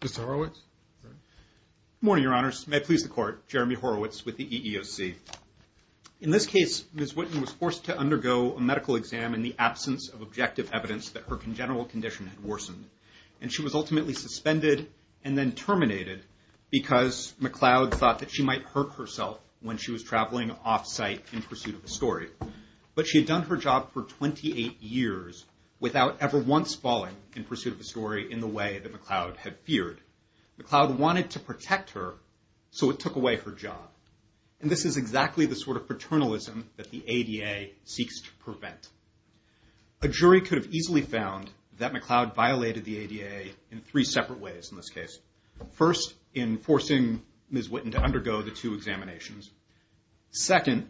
Mr. Horowitz? Good morning, Your Honors. May it please the Court, Jeremy Horowitz with the EEOC. In this case, Ms. Witten was forced to undergo a medical exam in the absence of objective evidence that her congenital condition had worsened. And she was ultimately suspended and then terminated because McLeod thought that she might hurt herself when she was traveling off-site in pursuit of a story. But she had done her job for 28 years without ever once falling in pursuit of a story in the way that McLeod had feared. McLeod wanted to protect her, so it took away her job. And this is exactly the sort of paternalism that the ADA seeks to prevent. A jury could have easily found that McLeod violated the ADA in three separate ways in this case. First, in forcing Ms. Witten to undergo the two examinations. Second,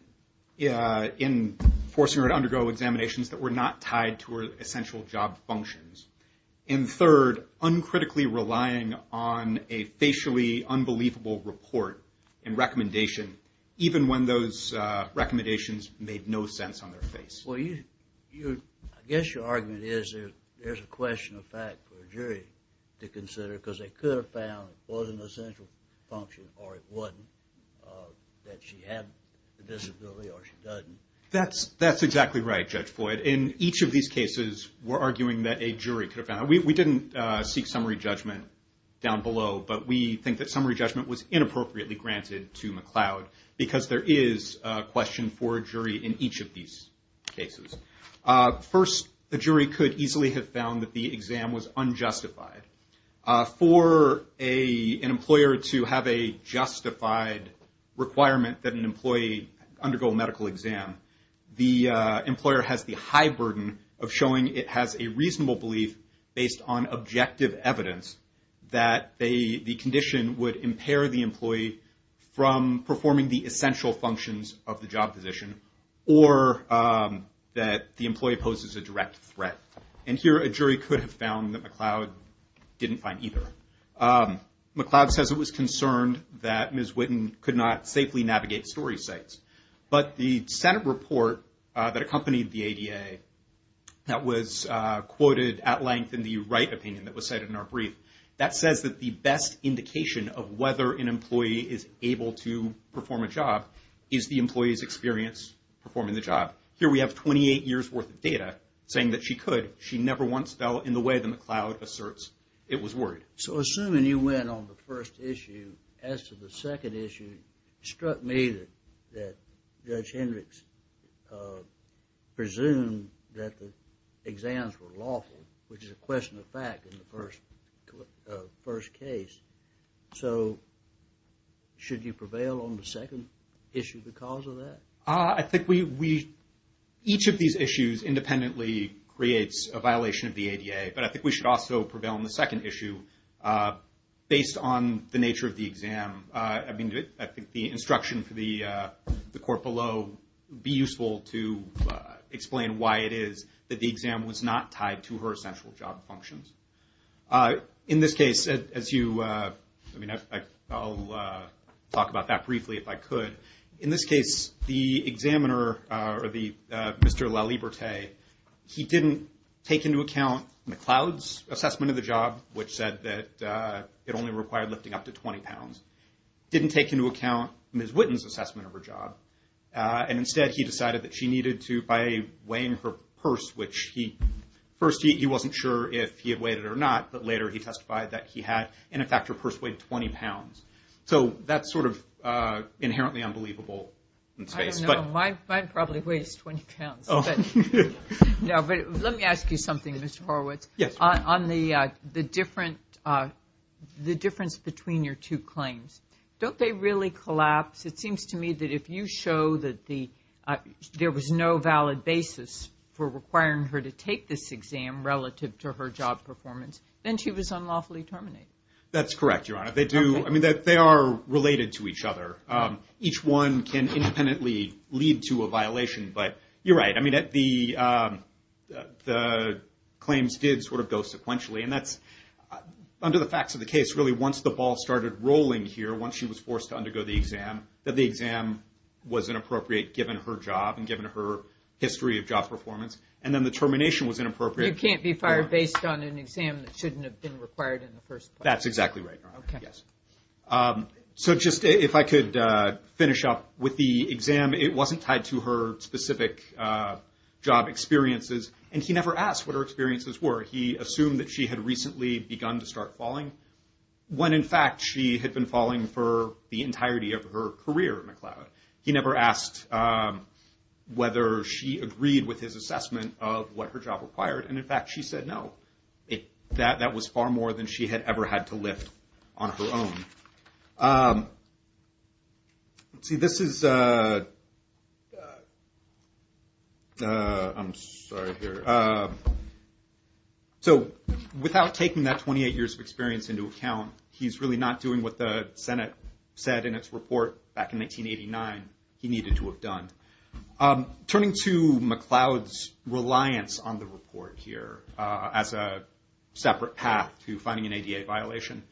in forcing her to undergo examinations that were not tied to her essential job functions. And third, uncritically relying on a facially unbelievable report and recommendation, even when those recommendations made no sense on their face. Well, I guess your argument is there's a question of fact for a jury to consider, because they could have found it wasn't an essential function, or it wasn't, that she had the disability or she doesn't. That's exactly right, Judge Floyd. In each of these cases, we're arguing that a jury could have found, we didn't seek summary judgment down below, but we think that summary judgment was inappropriately granted to McLeod, because there is a question for a jury in each of these cases. First, the jury could easily have found that the exam was unjustified. For an employer to have a justified requirement that an employee undergo a medical exam, the employer has the high burden of showing it has a reasonable belief based on objective evidence that the condition would impair the employee from performing the essential functions of the job position, or that the employee poses a direct threat. And here, a jury could have found that McLeod didn't find either. McLeod says it was concerned that Ms. Witten could not safely navigate story sites. But the Senate report that accompanied the ADA that was quoted at length in the Wright opinion that was cited in our brief, that says that the best indication of whether an employee is able to perform a job is the employee's experience performing the job. Here we have 28 years worth of data saying that she could. She never once fell in the way that McLeod asserts it was worried. So assuming you went on the first issue, as to the second issue, struck me that Judge Hendricks presumed that the exams were lawful, which is a question of fact in the first case. So should you prevail on the second issue because of that? I think we, each of these issues independently creates a violation of the ADA, but I think we should also prevail on the second issue based on the nature of the exam. I mean, I think the instruction for the court below would be useful to explain why it is that the exam was not tied to her essential job functions. In this case, as you, I mean, I'll talk about that briefly if I could. In this case, the examiner, or the Mr. Laliberte, he didn't take into account McLeod's assessment of the job, which said that it only required lifting up to 20 pounds, didn't take into account Ms. Witten's assessment of her job, and instead he decided that she needed to, by weighing her purse, which he, first he wasn't sure if he had weighed it or not, but later he testified that he had, and in fact her purse weighed 20 pounds. So that's sort of inherently unbelievable in space. I don't know, mine probably weighs 20 pounds. Oh. No, but let me ask you something, Mr. Horowitz. Yes. On the difference between your two claims, don't they really collapse? It seems to me that if you show that there was no valid basis for requiring her to take this exam relative to her job performance, then she was unlawfully terminated. That's correct, Your Honor. They do, I mean, they are related to each other. Each one can independently lead to a violation, but you're right. I mean, the claims did sort of go sequentially, and that's, under the facts of the case, really once the ball started rolling here, once she was forced to undergo the exam, that the exam was inappropriate given her job and given her history of job performance, and then the termination was inappropriate. You can't be fired based on an exam that shouldn't have been required in the first place. That's exactly right, Your Honor, yes. So just, if I could finish up with the exam, it wasn't tied to her specific job experiences, and he never asked what her experiences were. He assumed that she had recently begun to start falling, when in fact, she had been falling for the entirety of her career at McLeod. He never asked whether she agreed with his assessment of what her job required, and in fact, she said no. That was far more than she had ever had to lift on her own. Let's see, this is, I'm sorry here. So without taking that 28 years of experience into account, he's really not doing what the Senate said in its report back in 1989 he needed to have done. Turning to McLeod's reliance on the report here as a separate path to finding an ADA violation,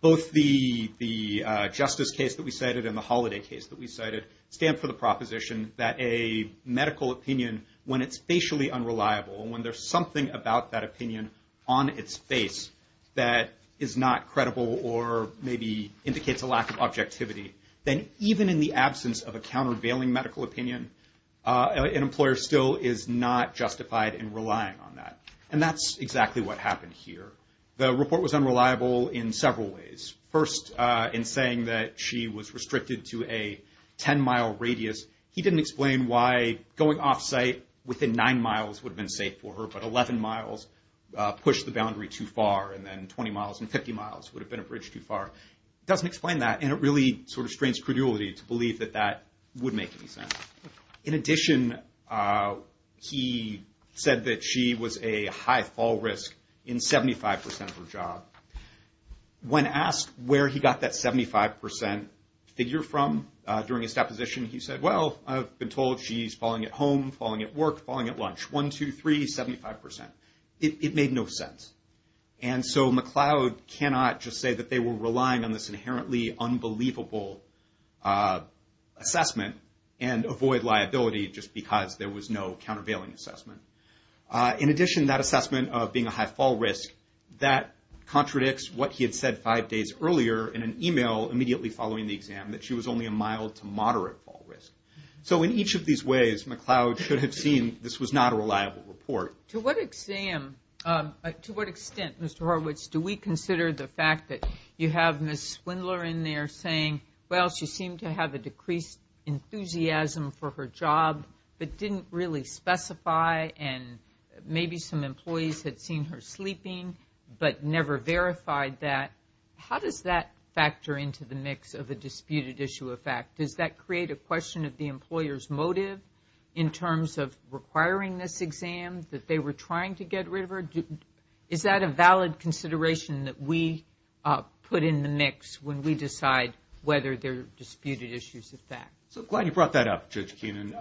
both the justice case that we cited and the holiday case that we cited stand for the proposition that a medical opinion, when it's facially unreliable, when there's something about that opinion on its face that is not credible or maybe indicates a lack of objectivity, then even in the absence of a countervailing medical opinion, an employer still is not justified in relying on that, and that's exactly what happened here. The report was unreliable in several ways. First, in saying that she was restricted to a 10-mile radius, he didn't explain why going off-site within nine miles would have been safe for her, but 11 miles pushed the boundary too far, and then 20 miles and 50 miles would have been a bridge too far. Doesn't explain that, and it really sort of restrains credulity to believe that that would make any sense. In addition, he said that she was a high fall risk in 75% of her job. When asked where he got that 75% figure from during his deposition, he said, well, I've been told she's falling at home, falling at work, falling at lunch. One, two, three, 75%. It made no sense, and so McLeod cannot just say that they were relying on this inherently unbelievable assessment and avoid liability just because there was no countervailing assessment. In addition, that assessment of being a high fall risk, that contradicts what he had said five days earlier in an email immediately following the exam, that she was only a mild to moderate fall risk. So in each of these ways, McLeod should have seen this was not a reliable report. To what exam, to what extent, Mr. Horwitz, do we consider the fact that you have Ms. Swindler in there saying, well, she seemed to have a decreased enthusiasm for her job, but didn't really specify, and maybe some employees had seen her sleeping, but never verified that. How does that factor into the mix of a disputed issue of fact? Does that create a question of the employer's motive in terms of requiring this exam that they were trying to get rid of her? Is that a valid consideration that we put in the mix when we decide whether they're disputed issues of fact? So glad you brought that up, Judge Keenan.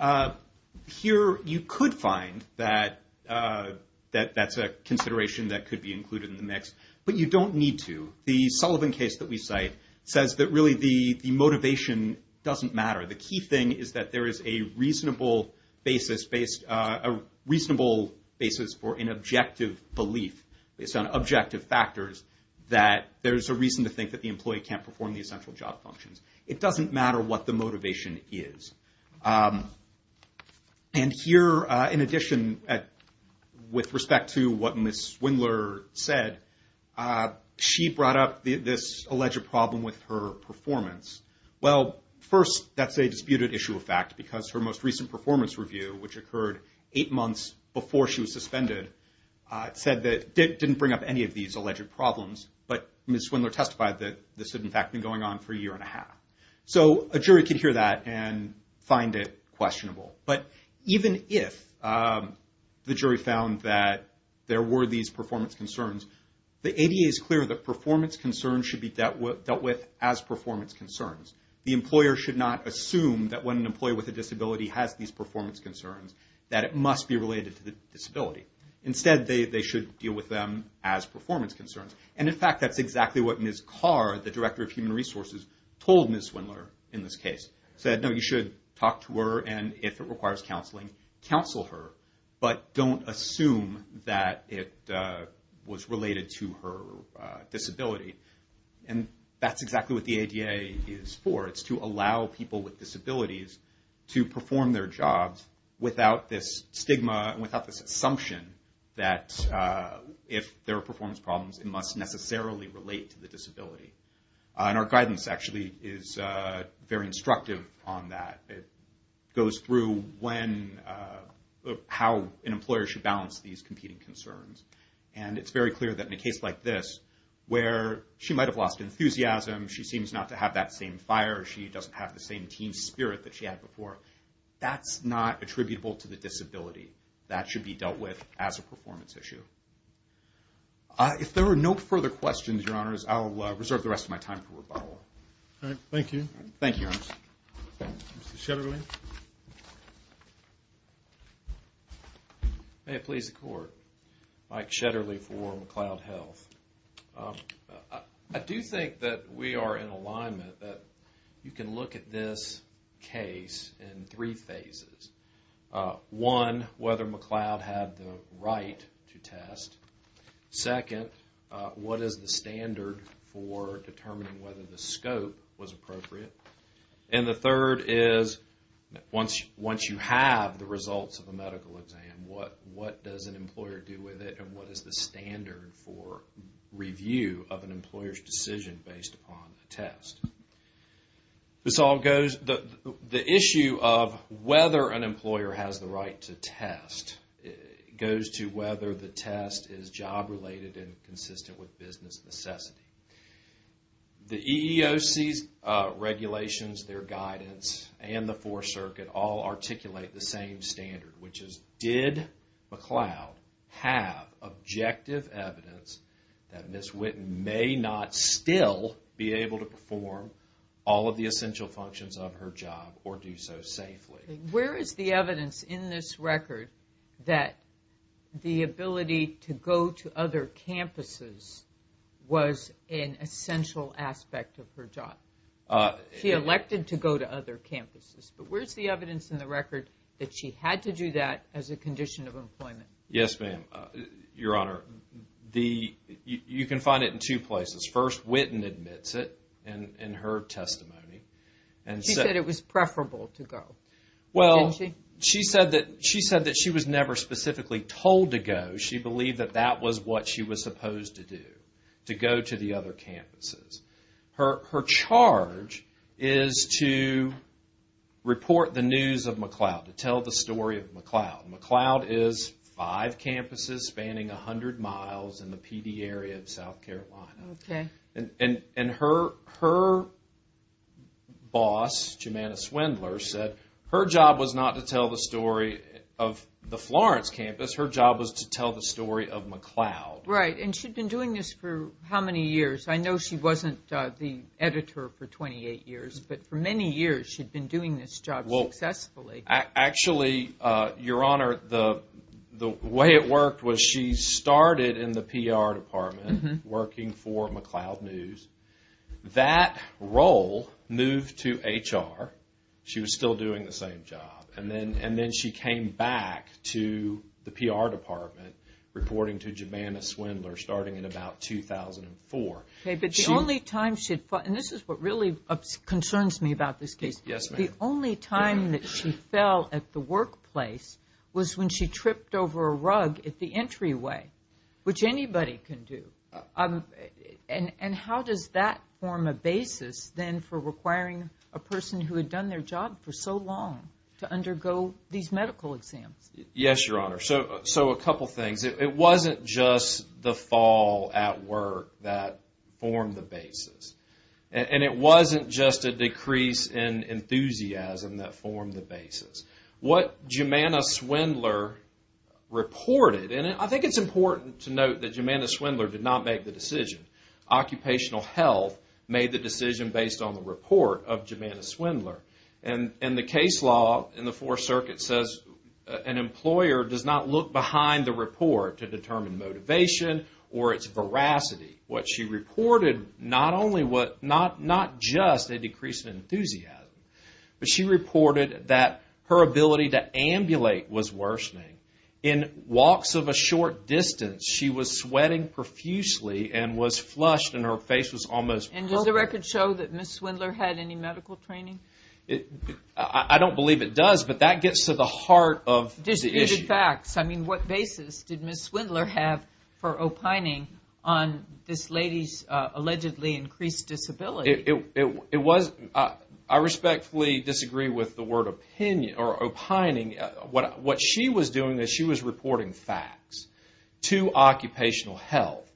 Here, you could find that that's a consideration that could be included in the mix, but you don't need to. The Sullivan case that we cite says that really the motivation doesn't matter. The key thing is that there is a reasonable basis based, a reasonable basis for an objective belief based on objective factors that there's a reason to think that the employee can't perform the essential job functions. It doesn't matter what the motivation is. And here, in addition, with respect to what Ms. Swindler said, she brought up this alleged problem with her performance. Well, first, that's a disputed issue of fact because her most recent performance review, which occurred eight months before she was suspended, said that, didn't bring up any of these alleged problems, but Ms. Swindler testified that this had, in fact, been going on for a year and a half. So a jury could hear that and find it questionable. But even if the jury found that there were these performance concerns, the ADA's clear that performance concerns should be dealt with as performance concerns. The employer should not assume that when an employee with a disability has these performance concerns that it must be related to the disability. Instead, they should deal with them as performance concerns. And, in fact, that's exactly what Ms. Carr, the Director of Human Resources, told Ms. Swindler in this case. Said, no, you should talk to her, and if it requires counseling, counsel her. But don't assume that it was related to her disability. And that's exactly what the ADA is for. It's to allow people with disabilities to perform their jobs without this stigma and without this assumption that if there are performance problems, it must necessarily relate to the disability. And our guidance, actually, is very instructive on that. It goes through how an employer should balance these competing concerns. And it's very clear that in a case like this, where she might have lost enthusiasm, she seems not to have that same fire, she doesn't have the same team spirit that she had before, that's not attributable to the disability. That should be dealt with as a performance issue. If there are no further questions, Your Honors, I'll reserve the rest of my time for rebuttal. All right, thank you. Thank you, Your Honors. Mr. Shetterly. May it please the Court. Mike Shetterly for McLeod Health. I do think that we are in alignment, that you can look at this case in three phases. One, whether McLeod had the right to test. Second, what is the standard for determining whether the scope was appropriate? And the third is, once you have the results of a medical exam, what does an employer do with it, and what is the standard for review of an employer's decision based upon a test? This all goes, the issue of whether an employer has the right to test goes to whether the test is job related and consistent with business necessity. The EEOC's regulations, their guidance, and the Fourth Circuit all articulate the same standard, which is, did McLeod have objective evidence that Ms. Witten may not still be able to perform all of the essential functions of her job, or do so safely? Where is the evidence in this record that the ability to go to other campuses was an essential aspect of her job? She elected to go to other campuses, but where's the evidence in the record that she had to do that as a condition of employment? Yes, ma'am. Your Honor, you can find it in two places. First, Witten admits it in her testimony. She said it was preferable to go. Well, she said that she was never specifically told to go. She believed that that was what she was supposed to do, to go to the other campuses. Her charge is to report the news of McLeod, to tell the story of McLeod. McLeod is five campuses spanning 100 miles in the Pee Dee area of South Carolina. And her boss, Jomana Swindler, said her job was not to tell the story of the Florence campus, her job was to tell the story of McLeod. Right, and she'd been doing this for how many years? I know she wasn't the editor for 28 years, but for many years she'd been doing this job successfully. Actually, Your Honor, the way it worked was she started in the PR department, working for McLeod News. That role moved to HR. She was still doing the same job. And then she came back to the PR department, reporting to Jomana Swindler, starting in about 2004. Okay, but the only time she'd, and this is what really concerns me about this case. Yes, ma'am. The only time that she fell at the workplace was when she tripped over a rug at the entryway, which anybody can do. And how does that form a basis, then, for requiring a person who had done their job for so long to undergo these medical exams? Yes, Your Honor, so a couple things. It wasn't just the fall at work that formed the basis. And it wasn't just a decrease in enthusiasm that formed the basis. What Jomana Swindler reported, and I think it's important to note that Jomana Swindler did not make the decision. Occupational Health made the decision based on the report of Jomana Swindler. And the case law in the Fourth Circuit says an employer does not look behind the report to determine motivation or its veracity. What she reported, not just a decrease in enthusiasm, but she reported that her ability to ambulate was worsening. In walks of a short distance, she was sweating profusely and was flushed and her face was almost poker. And does the record show that Ms. Swindler had any medical training? I don't believe it does, but that gets to the heart of the issue. Disputed facts, I mean, what basis did Ms. Swindler have for opining on this lady's allegedly increased disability? It was, I respectfully disagree with the word opinion, or opining, what she was doing is she was reporting facts to Occupational Health.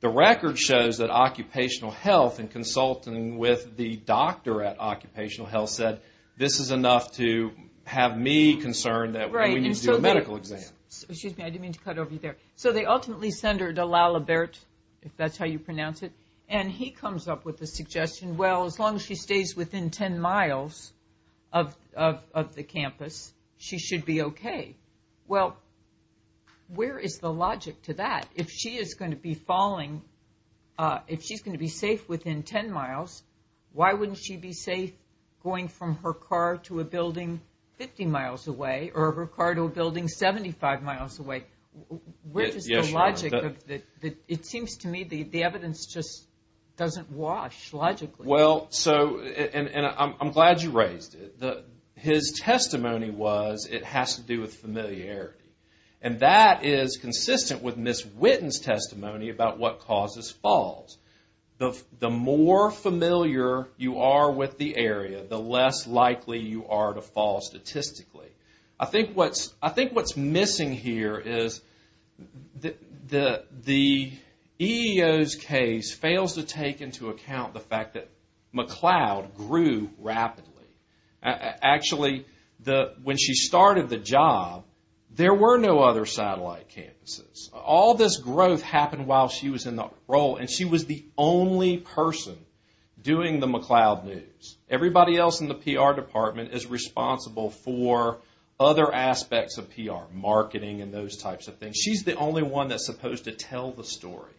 The record shows that Occupational Health in consulting with the doctor at Occupational Health said this is enough to have me concerned that we need to do a medical exam. Excuse me, I didn't mean to cut over you there. So they ultimately send her to Lalibert, if that's how you pronounce it, and he comes up with the suggestion, well, as long as she stays within 10 miles of the campus, she should be okay. Well, where is the logic to that? If she is gonna be falling, if she's gonna be safe within 10 miles, why wouldn't she be safe going from her car to a building 50 miles away, or her car to a building 75 miles away? Where is the logic of that? It seems to me the evidence just doesn't wash logically. Well, so, and I'm glad you raised it. His testimony was it has to do with familiarity, and that is consistent with Ms. Whitten's testimony about what causes falls. The more familiar you are with the area, the less likely you are to fall statistically. I think what's missing here is the EEO's case fails to take into account the fact that McLeod grew rapidly. Actually, when she started the job, there were no other satellite campuses. All this growth happened while she was in the role, and she was the only person doing the McLeod news. Everybody else in the PR department is responsible for other aspects of PR, marketing and those types of things. She's the only one that's supposed to tell the story.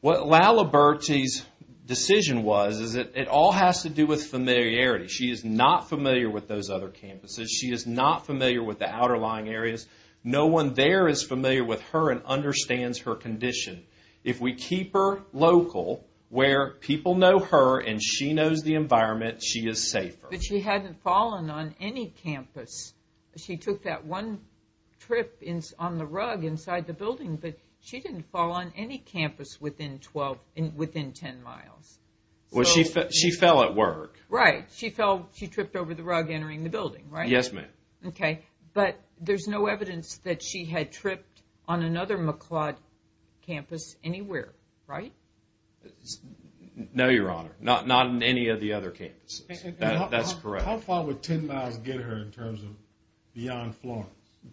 What Laliberti's decision was is that it all has to do with familiarity. She is not familiar with those other campuses. She is not familiar with the outlying areas. No one there is familiar with her and understands her condition. If we keep her local where people know her and she knows the environment, she is safer. But she hadn't fallen on any campus. She took that one trip on the rug inside the building, but she didn't fall on any campus within 10 miles. Well, she fell at work. Right, she fell, she tripped over the rug entering the building, right? Yes, ma'am. Okay, but there's no evidence that she had tripped on another McLeod campus anywhere, right? No, Your Honor, not in any of the other campuses. That's correct. How far would 10 miles get her in terms of beyond Florence?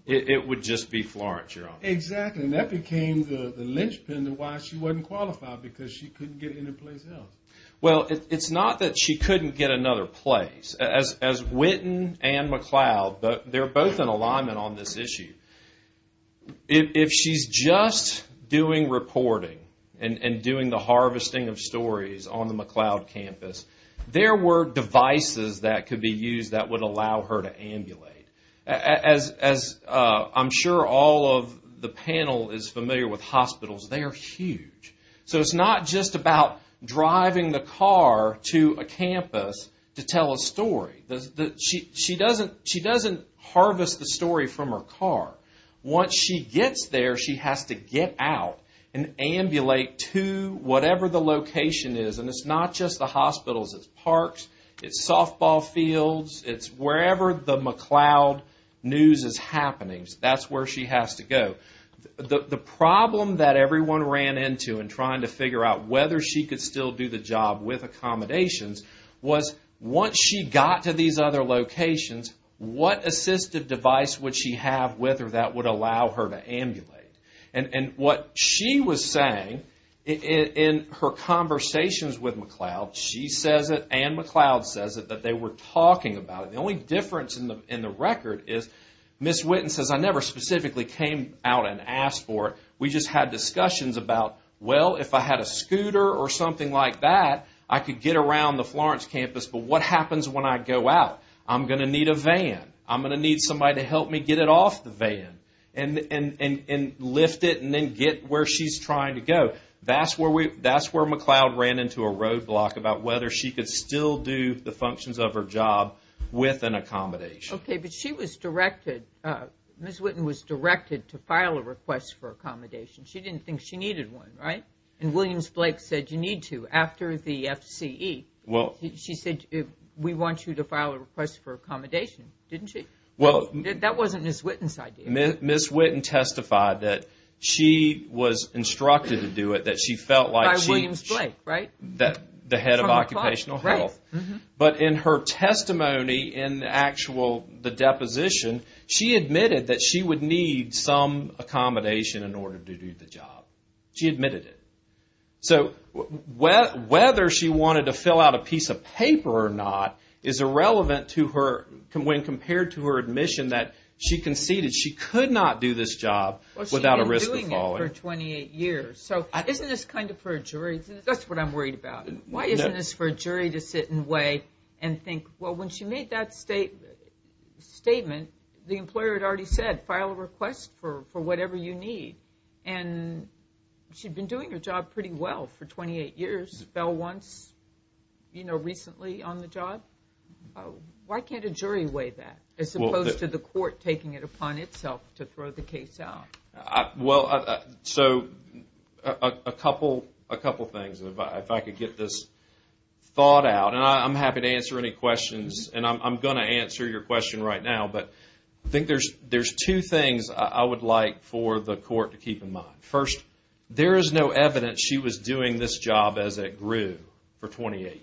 It would just be Florence, Your Honor. Exactly, and that became the linchpin to why she wasn't qualified, because she couldn't get any place else. Well, it's not that she couldn't get another place. As Witten and McLeod, they're both in alignment on this issue. If she's just doing reporting and doing the harvesting of stories on the McLeod campus, there were devices that could be used that would allow her to ambulate. As I'm sure all of the panel is familiar with hospitals, they are huge. So it's not just about driving the car to a campus to tell a story. She doesn't harvest the story from her car. Once she gets there, she has to get out and ambulate to whatever the location is, and it's not just the hospitals, it's parks, it's softball fields, it's wherever the McLeod news is happening. That's where she has to go. The problem that everyone ran into in trying to figure out whether she could still do the job with accommodations was once she got to these other locations, what assistive device would she have with her that would allow her to ambulate? And what she was saying in her conversations with McLeod, she says it and McLeod says it, that they were talking about it. The only difference in the record is, Ms. Witten says, I never specifically came out and asked for it, we just had discussions about, well, if I had a scooter or something like that, I could get around the Florence campus, but what happens when I go out? I'm gonna need a van. I'm gonna need somebody to help me get it off the van and lift it and then get where she's trying to go. That's where McLeod ran into a roadblock about whether she could still do the functions of her job with an accommodation. Okay, but she was directed, Ms. Witten was directed to file a request for accommodation. She didn't think she needed one, right? And Williams Blake said, you need to after the FCE. She said, we want you to file a request for accommodation, didn't she? That wasn't Ms. Witten's idea. Ms. Witten testified that she was instructed to do it, that she felt like she was the head of occupational health, but in her testimony in the actual, the deposition, she admitted that she would need some accommodation in order to do the job. She admitted it. So whether she wanted to fill out a piece of paper or not is irrelevant to her, when compared to her admission that she conceded she could not do this job without a risk of falling. Well, she'd been doing it for 28 years. So isn't this kind of for a jury? That's what I'm worried about. Why isn't this for a jury to sit and weigh and think, well, when she made that statement, the employer had already said, file a request for whatever you need. And she'd been doing her job pretty well for 28 years, fell once recently on the job. Why can't a jury weigh that, as opposed to the court taking it upon itself to throw the case out? Well, so a couple things, if I could get this thought out, and I'm happy to answer any questions, and I'm gonna answer your question right now, but I think there's two things I would like for the court to keep in mind. First, there is no evidence she was doing this job as it grew for 28 years.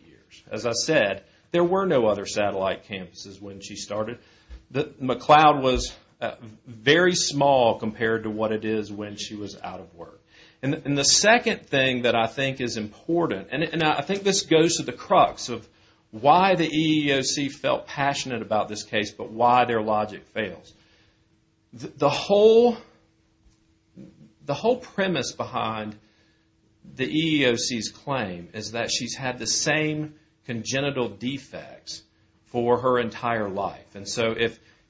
As I said, there were no other satellite campuses when she started. McLeod was very small compared to what it is when she was out of work. And the second thing that I think is important, and I think this goes to the crux of why the EEOC felt passionate about this case, but why their logic fails. The whole premise behind the EEOC's claim is that she's had the same congenital defects for her entire life. And so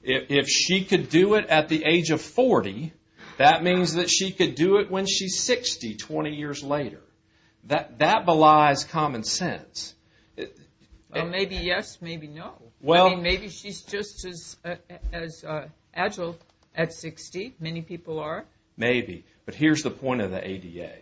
if she could do it at the age of 40, that means that she could do it when she's 60, 20 years later. That belies common sense. Maybe yes, maybe no. Well, maybe she's just as agile at 60. Many people are. Maybe, but here's the point of the ADA.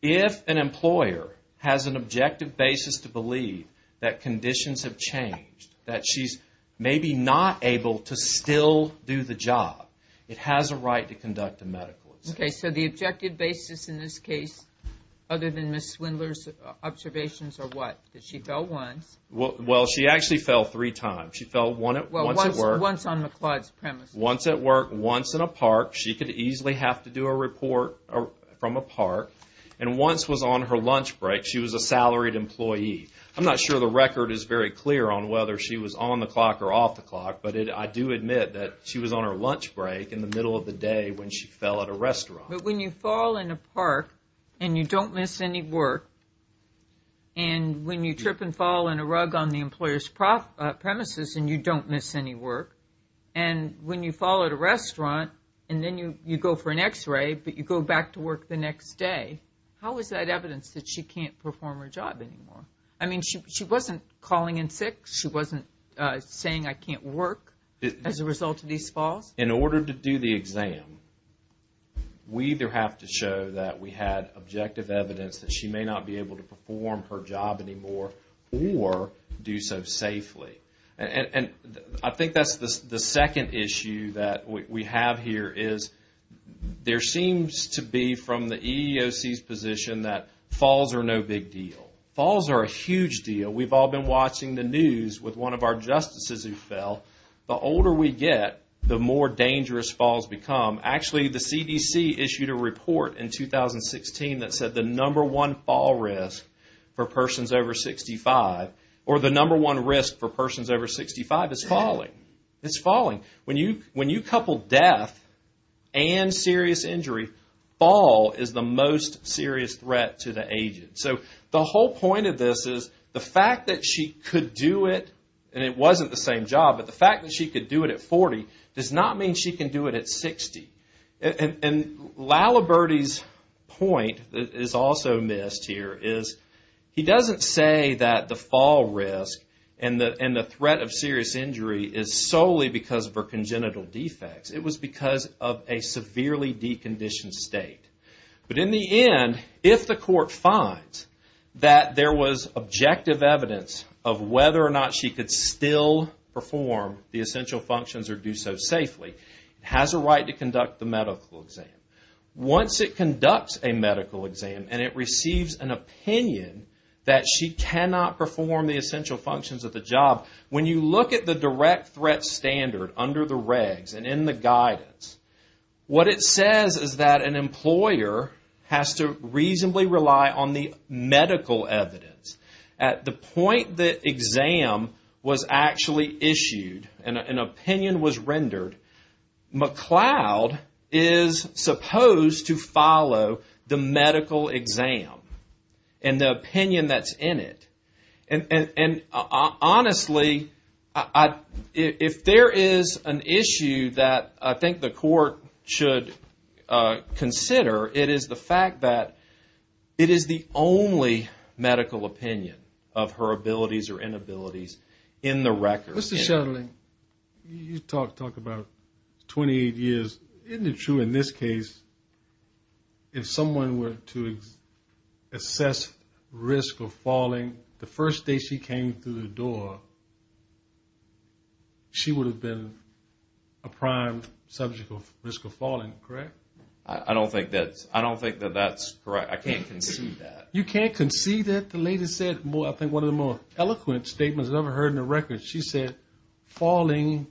If an employer has an objective basis to believe that conditions have changed, that she's maybe not able to still do the job, it has a right to conduct a medical exam. Okay, so the objective basis in this case, other than Ms. Swindler's observations, are what? That she fell once. Well, she actually fell three times. She fell once at work. Once on McLeod's premises. Once at work, once in a park. She could easily have to do a report from a park. And once was on her lunch break. She was a salaried employee. I'm not sure the record is very clear on whether she was on the clock or off the clock, but I do admit that she was on her lunch break in the middle of the day when she fell at a restaurant. But when you fall in a park and you don't miss any work, and when you trip and fall in a rug on the employer's premises and you don't miss any work, and when you fall at a restaurant and then you go for an x-ray, but you go back to work the next day, how is that evidence that she can't perform her job anymore? I mean, she wasn't calling in sick. She wasn't saying, I can't work as a result of these falls. In order to do the exam, we either have to show that we had objective evidence that she may not be able to perform her job anymore or do so safely. And I think that's the second issue that we have here is there seems to be from the EEOC's position that falls are no big deal. Falls are a huge deal. We've all been watching the news with one of our justices who fell. The older we get, the more dangerous falls become. Actually, the CDC issued a report in 2016 that said the number one fall risk for persons over 65 or the number one risk for persons over 65 is falling. It's falling. When you couple death and serious injury, fall is the most serious threat to the agent. So the whole point of this is the fact that she could do it and it wasn't the same job, but the fact that she could do it at 40 does not mean she can do it at 60. And Laliberte's point is also missed here is he doesn't say that the fall risk and the threat of serious injury is solely because of her congenital defects. It was because of a severely deconditioned state. But in the end, if the court finds that there was objective evidence of whether or not she could still perform the essential functions or do so safely, it has a right to conduct the medical exam. Once it conducts a medical exam and it receives an opinion that she cannot perform the essential functions of the job, when you look at the direct threat standard under the regs and in the guidance, what it says is that an employer has to reasonably rely on the medical evidence. At the point the exam was actually issued and an opinion was rendered, McLeod is supposed to follow the medical exam and the opinion that's in it. And honestly, if there is an issue that I think the court should consider, it is the fact that it is the only medical opinion of her abilities or inabilities in the record. Mr. Shetland, you talk about 28 years. Isn't it true in this case, if someone were to assess risk of falling, the first day she came through the door, she would have been a prime subject of risk of falling, correct? I don't think that that's correct. I can't concede that. You can't concede that? The lady said, I think one of the more eloquent statements I've ever heard in the record. She said, falling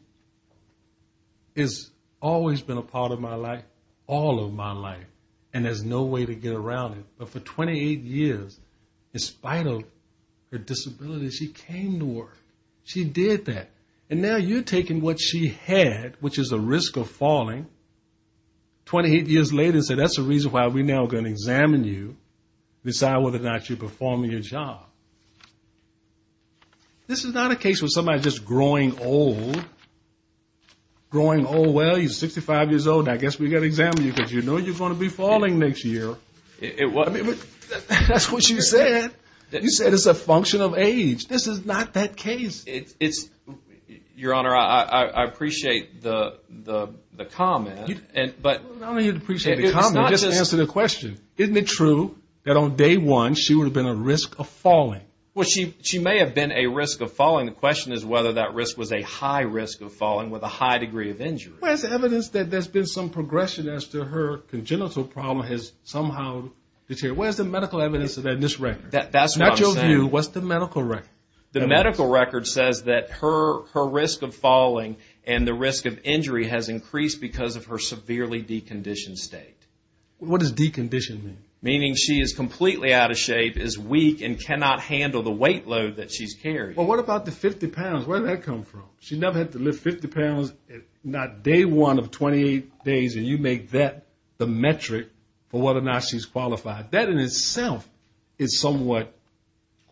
has always been a part of my life, all of my life, and there's no way to get around it. But for 28 years, in spite of her disability, she came to work. She did that. And now you're taking what she had, which is a risk of falling, 28 years later and said, that's the reason why we're now gonna examine you, decide whether or not you're performing your job. This is not a case where somebody's just growing old, growing old, well, you're 65 years old, I guess we gotta examine you because you know you're gonna be falling next year. It was, that's what you said. You said it's a function of age. This is not that case. It's, your honor, I appreciate the comment, but I don't need to appreciate the comment, just answer the question. Isn't it true that on day one, she would have been a risk of falling? Well, she may have been a risk of falling. The question is whether that risk was a high risk of falling with a high degree of injury. Well, there's evidence that there's been some progression as to her congenital problem has somehow deteriorated. Where's the medical evidence in this record? That's what I'm saying. In your view, what's the medical record? The medical record says that her risk of falling and the risk of injury has increased because of her severely deconditioned state. What does deconditioned mean? Meaning she is completely out of shape, is weak and cannot handle the weight load that she's carrying. Well, what about the 50 pounds? Where did that come from? She never had to lift 50 pounds, not day one of 28 days and you make that the metric for whether or not she's qualified. That in itself is somewhat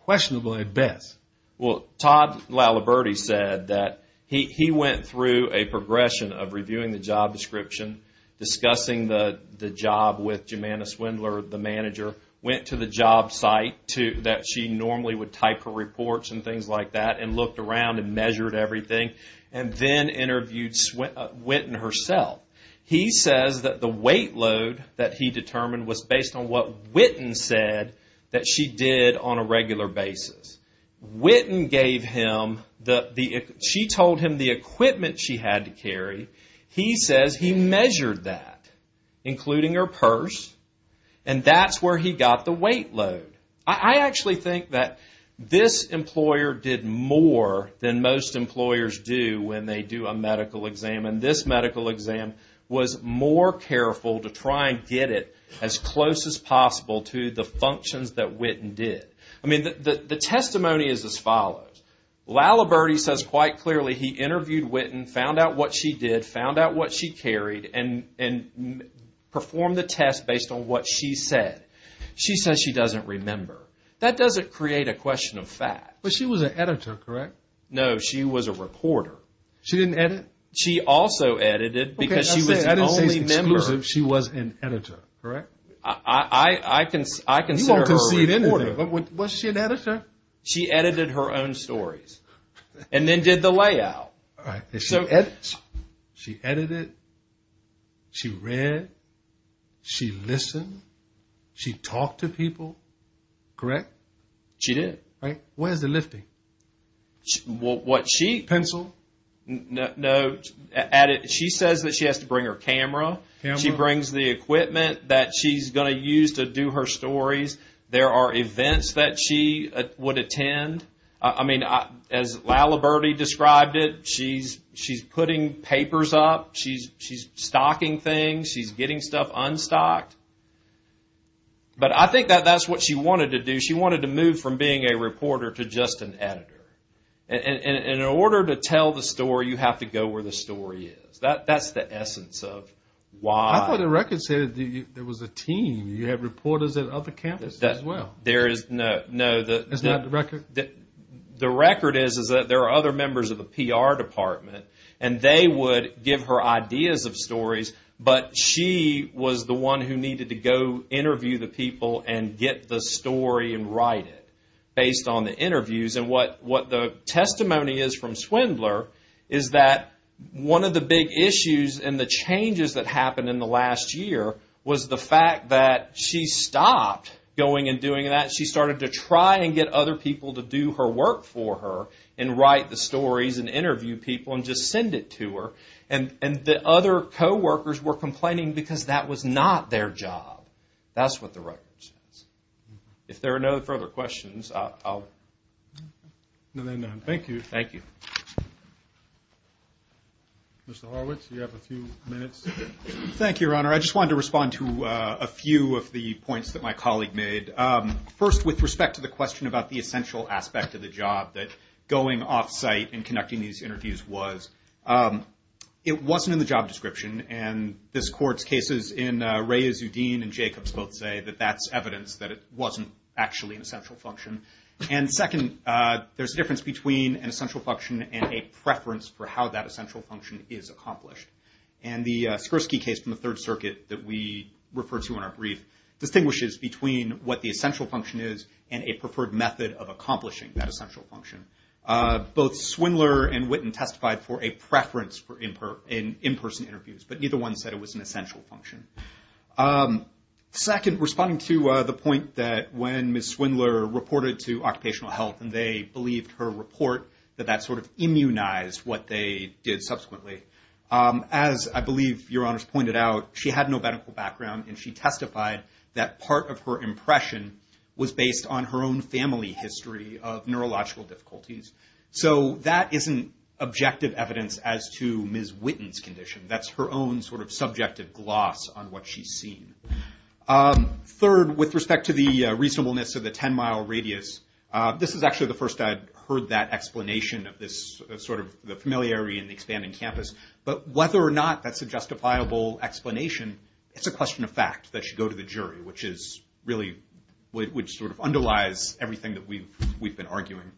questionable at best. Well, Todd Laliberte said that he went through a progression of reviewing the job description, discussing the job with Jimena Swindler, the manager, went to the job site that she normally would type her reports and things like that, and looked around and measured everything. And then interviewed Whitten herself. He says that the weight load that he determined was based on what Whitten said that she did on a regular basis. Whitten gave him the, she told him the equipment she had to carry. He says he measured that, including her purse, and that's where he got the weight load. I actually think that this employer did more than most employers do when they do a medical exam. And this medical exam was more careful to try and get it as close as possible to the functions that Whitten did. I mean, the testimony is as follows. Laliberte says quite clearly he interviewed Whitten, found out what she did, found out what she carried, and performed the test based on what she said. She says she doesn't remember. That doesn't create a question of fact. But she was an editor, correct? No, she was a reporter. She didn't edit? She also edited because she was the only member. She was an editor, correct? I consider her a reporter. Was she an editor? She edited her own stories and then did the layout. All right, she edits. She edited, she read, she listened, she talked to people, correct? She did. Where's the lifting? Pencil? No, she says that she has to bring her camera. She brings the equipment that she's gonna use to do her stories. There are events that she would attend. I mean, as Laliberte described it, she's putting papers up, she's stocking things, she's getting stuff unstocked. But I think that that's what she wanted to do. She wanted to move from being a reporter to just an editor. And in order to tell the story, you have to go where the story is. That's the essence of why. I thought the record said there was a team. You had reporters at other campuses as well. There is, no. That's not the record? The record is that there are other members of the PR department and they would give her ideas of stories, but she was the one who needed to go interview the people and get the story and write it based on the interviews. And what the testimony is from Swindler is that one of the big issues and the changes that happened in the last year was the fact that she stopped going and doing that. She started to try and get other people to do her work for her and write the stories and interview people and just send it to her. And the other coworkers were complaining because that was not their job. That's what the record says. If there are no further questions, I'll. No, there are none. Thank you. Thank you. Mr. Horowitz, you have a few minutes. Thank you, Your Honor. I just wanted to respond to a few of the points that my colleague made. First, with respect to the question about the essential aspect of the job, that going off-site and conducting these interviews was. It wasn't in the job description and this court's cases in Rea Zudin and Jacobs both say that that's evidence that it wasn't actually an essential function. And second, there's a difference between an essential function and a preference for how that essential function is accomplished. And the Skirsky case from the Third Circuit that we refer to in our brief distinguishes between what the essential function is and a preferred method of accomplishing that essential function. Both Swindler and Witten testified for a preference for in-person interviews, but neither one said it was an essential function. Second, responding to the point that when Ms. Swindler reported to Occupational Health and they believed her report, that that sort of immunized what they did subsequently. As I believe Your Honors pointed out, she had no medical background and she testified that part of her impression was based on her own family history of neurological difficulties. So that isn't objective evidence as to Ms. Witten's condition. That's her own sort of subjective gloss on what she's seen. Third, with respect to the reasonableness of the 10-mile radius, this is actually the first I'd heard that explanation of this sort of the familiarity in the expanding campus. But whether or not that's a justifiable explanation, it's a question of fact that should go to the jury, which is really, which sort of underlies everything that we've been arguing.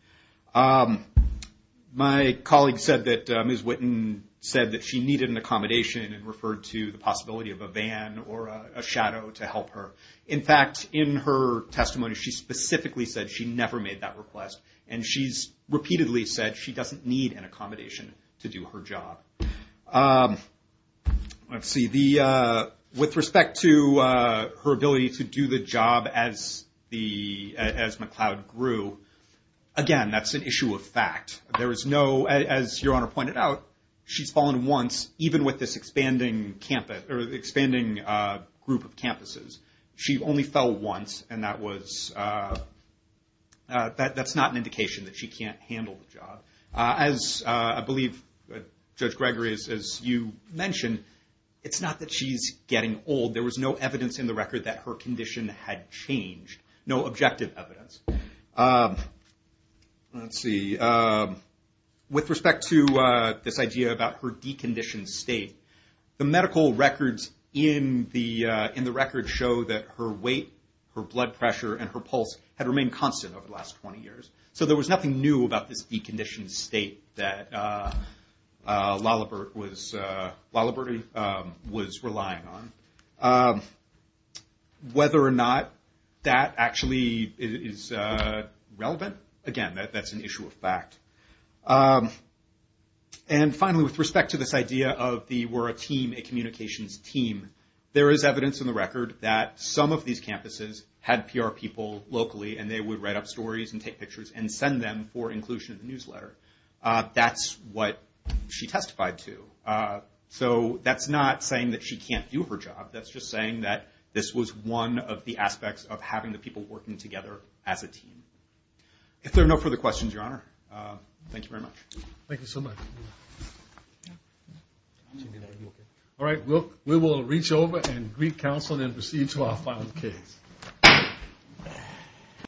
My colleague said that Ms. Witten said that she needed an accommodation and referred to the possibility of a van or a shadow to help her. In fact, in her testimony, she specifically said she never made that request and she's repeatedly said she doesn't need an accommodation to do her job. Let's see, with respect to her ability to do the job as McLeod grew, again, that's an issue of fact. There is no, as Your Honor pointed out, she's fallen once, even with this expanding campus, or expanding group of campuses. She only fell once and that was, that's not an indication that she can't handle the job. As I believe Judge Gregory, as you mentioned, it's not that she's getting old. There was no evidence in the record that her condition had changed. No objective evidence. Let's see. With respect to this idea about her deconditioned state, the medical records in the record show that her weight, her blood pressure, and her pulse had remained constant over the last 20 years. So there was nothing new about this deconditioned state that Lalibert was relying on. Whether or not that actually is relevant, again, that's an issue of fact. And finally, with respect to this idea of the, we're a team, a communications team, there is evidence in the record that some of these campuses had PR people locally and they would write up stories and take pictures and send them for inclusion in the newsletter. That's what she testified to. So that's not saying that she can't do her job. That's just saying that this was one of the aspects of having the people working together as a team. If there are no further questions, Your Honor, thank you very much. Thank you so much. All right, we will reach over and greet counsel and then proceed to our final case.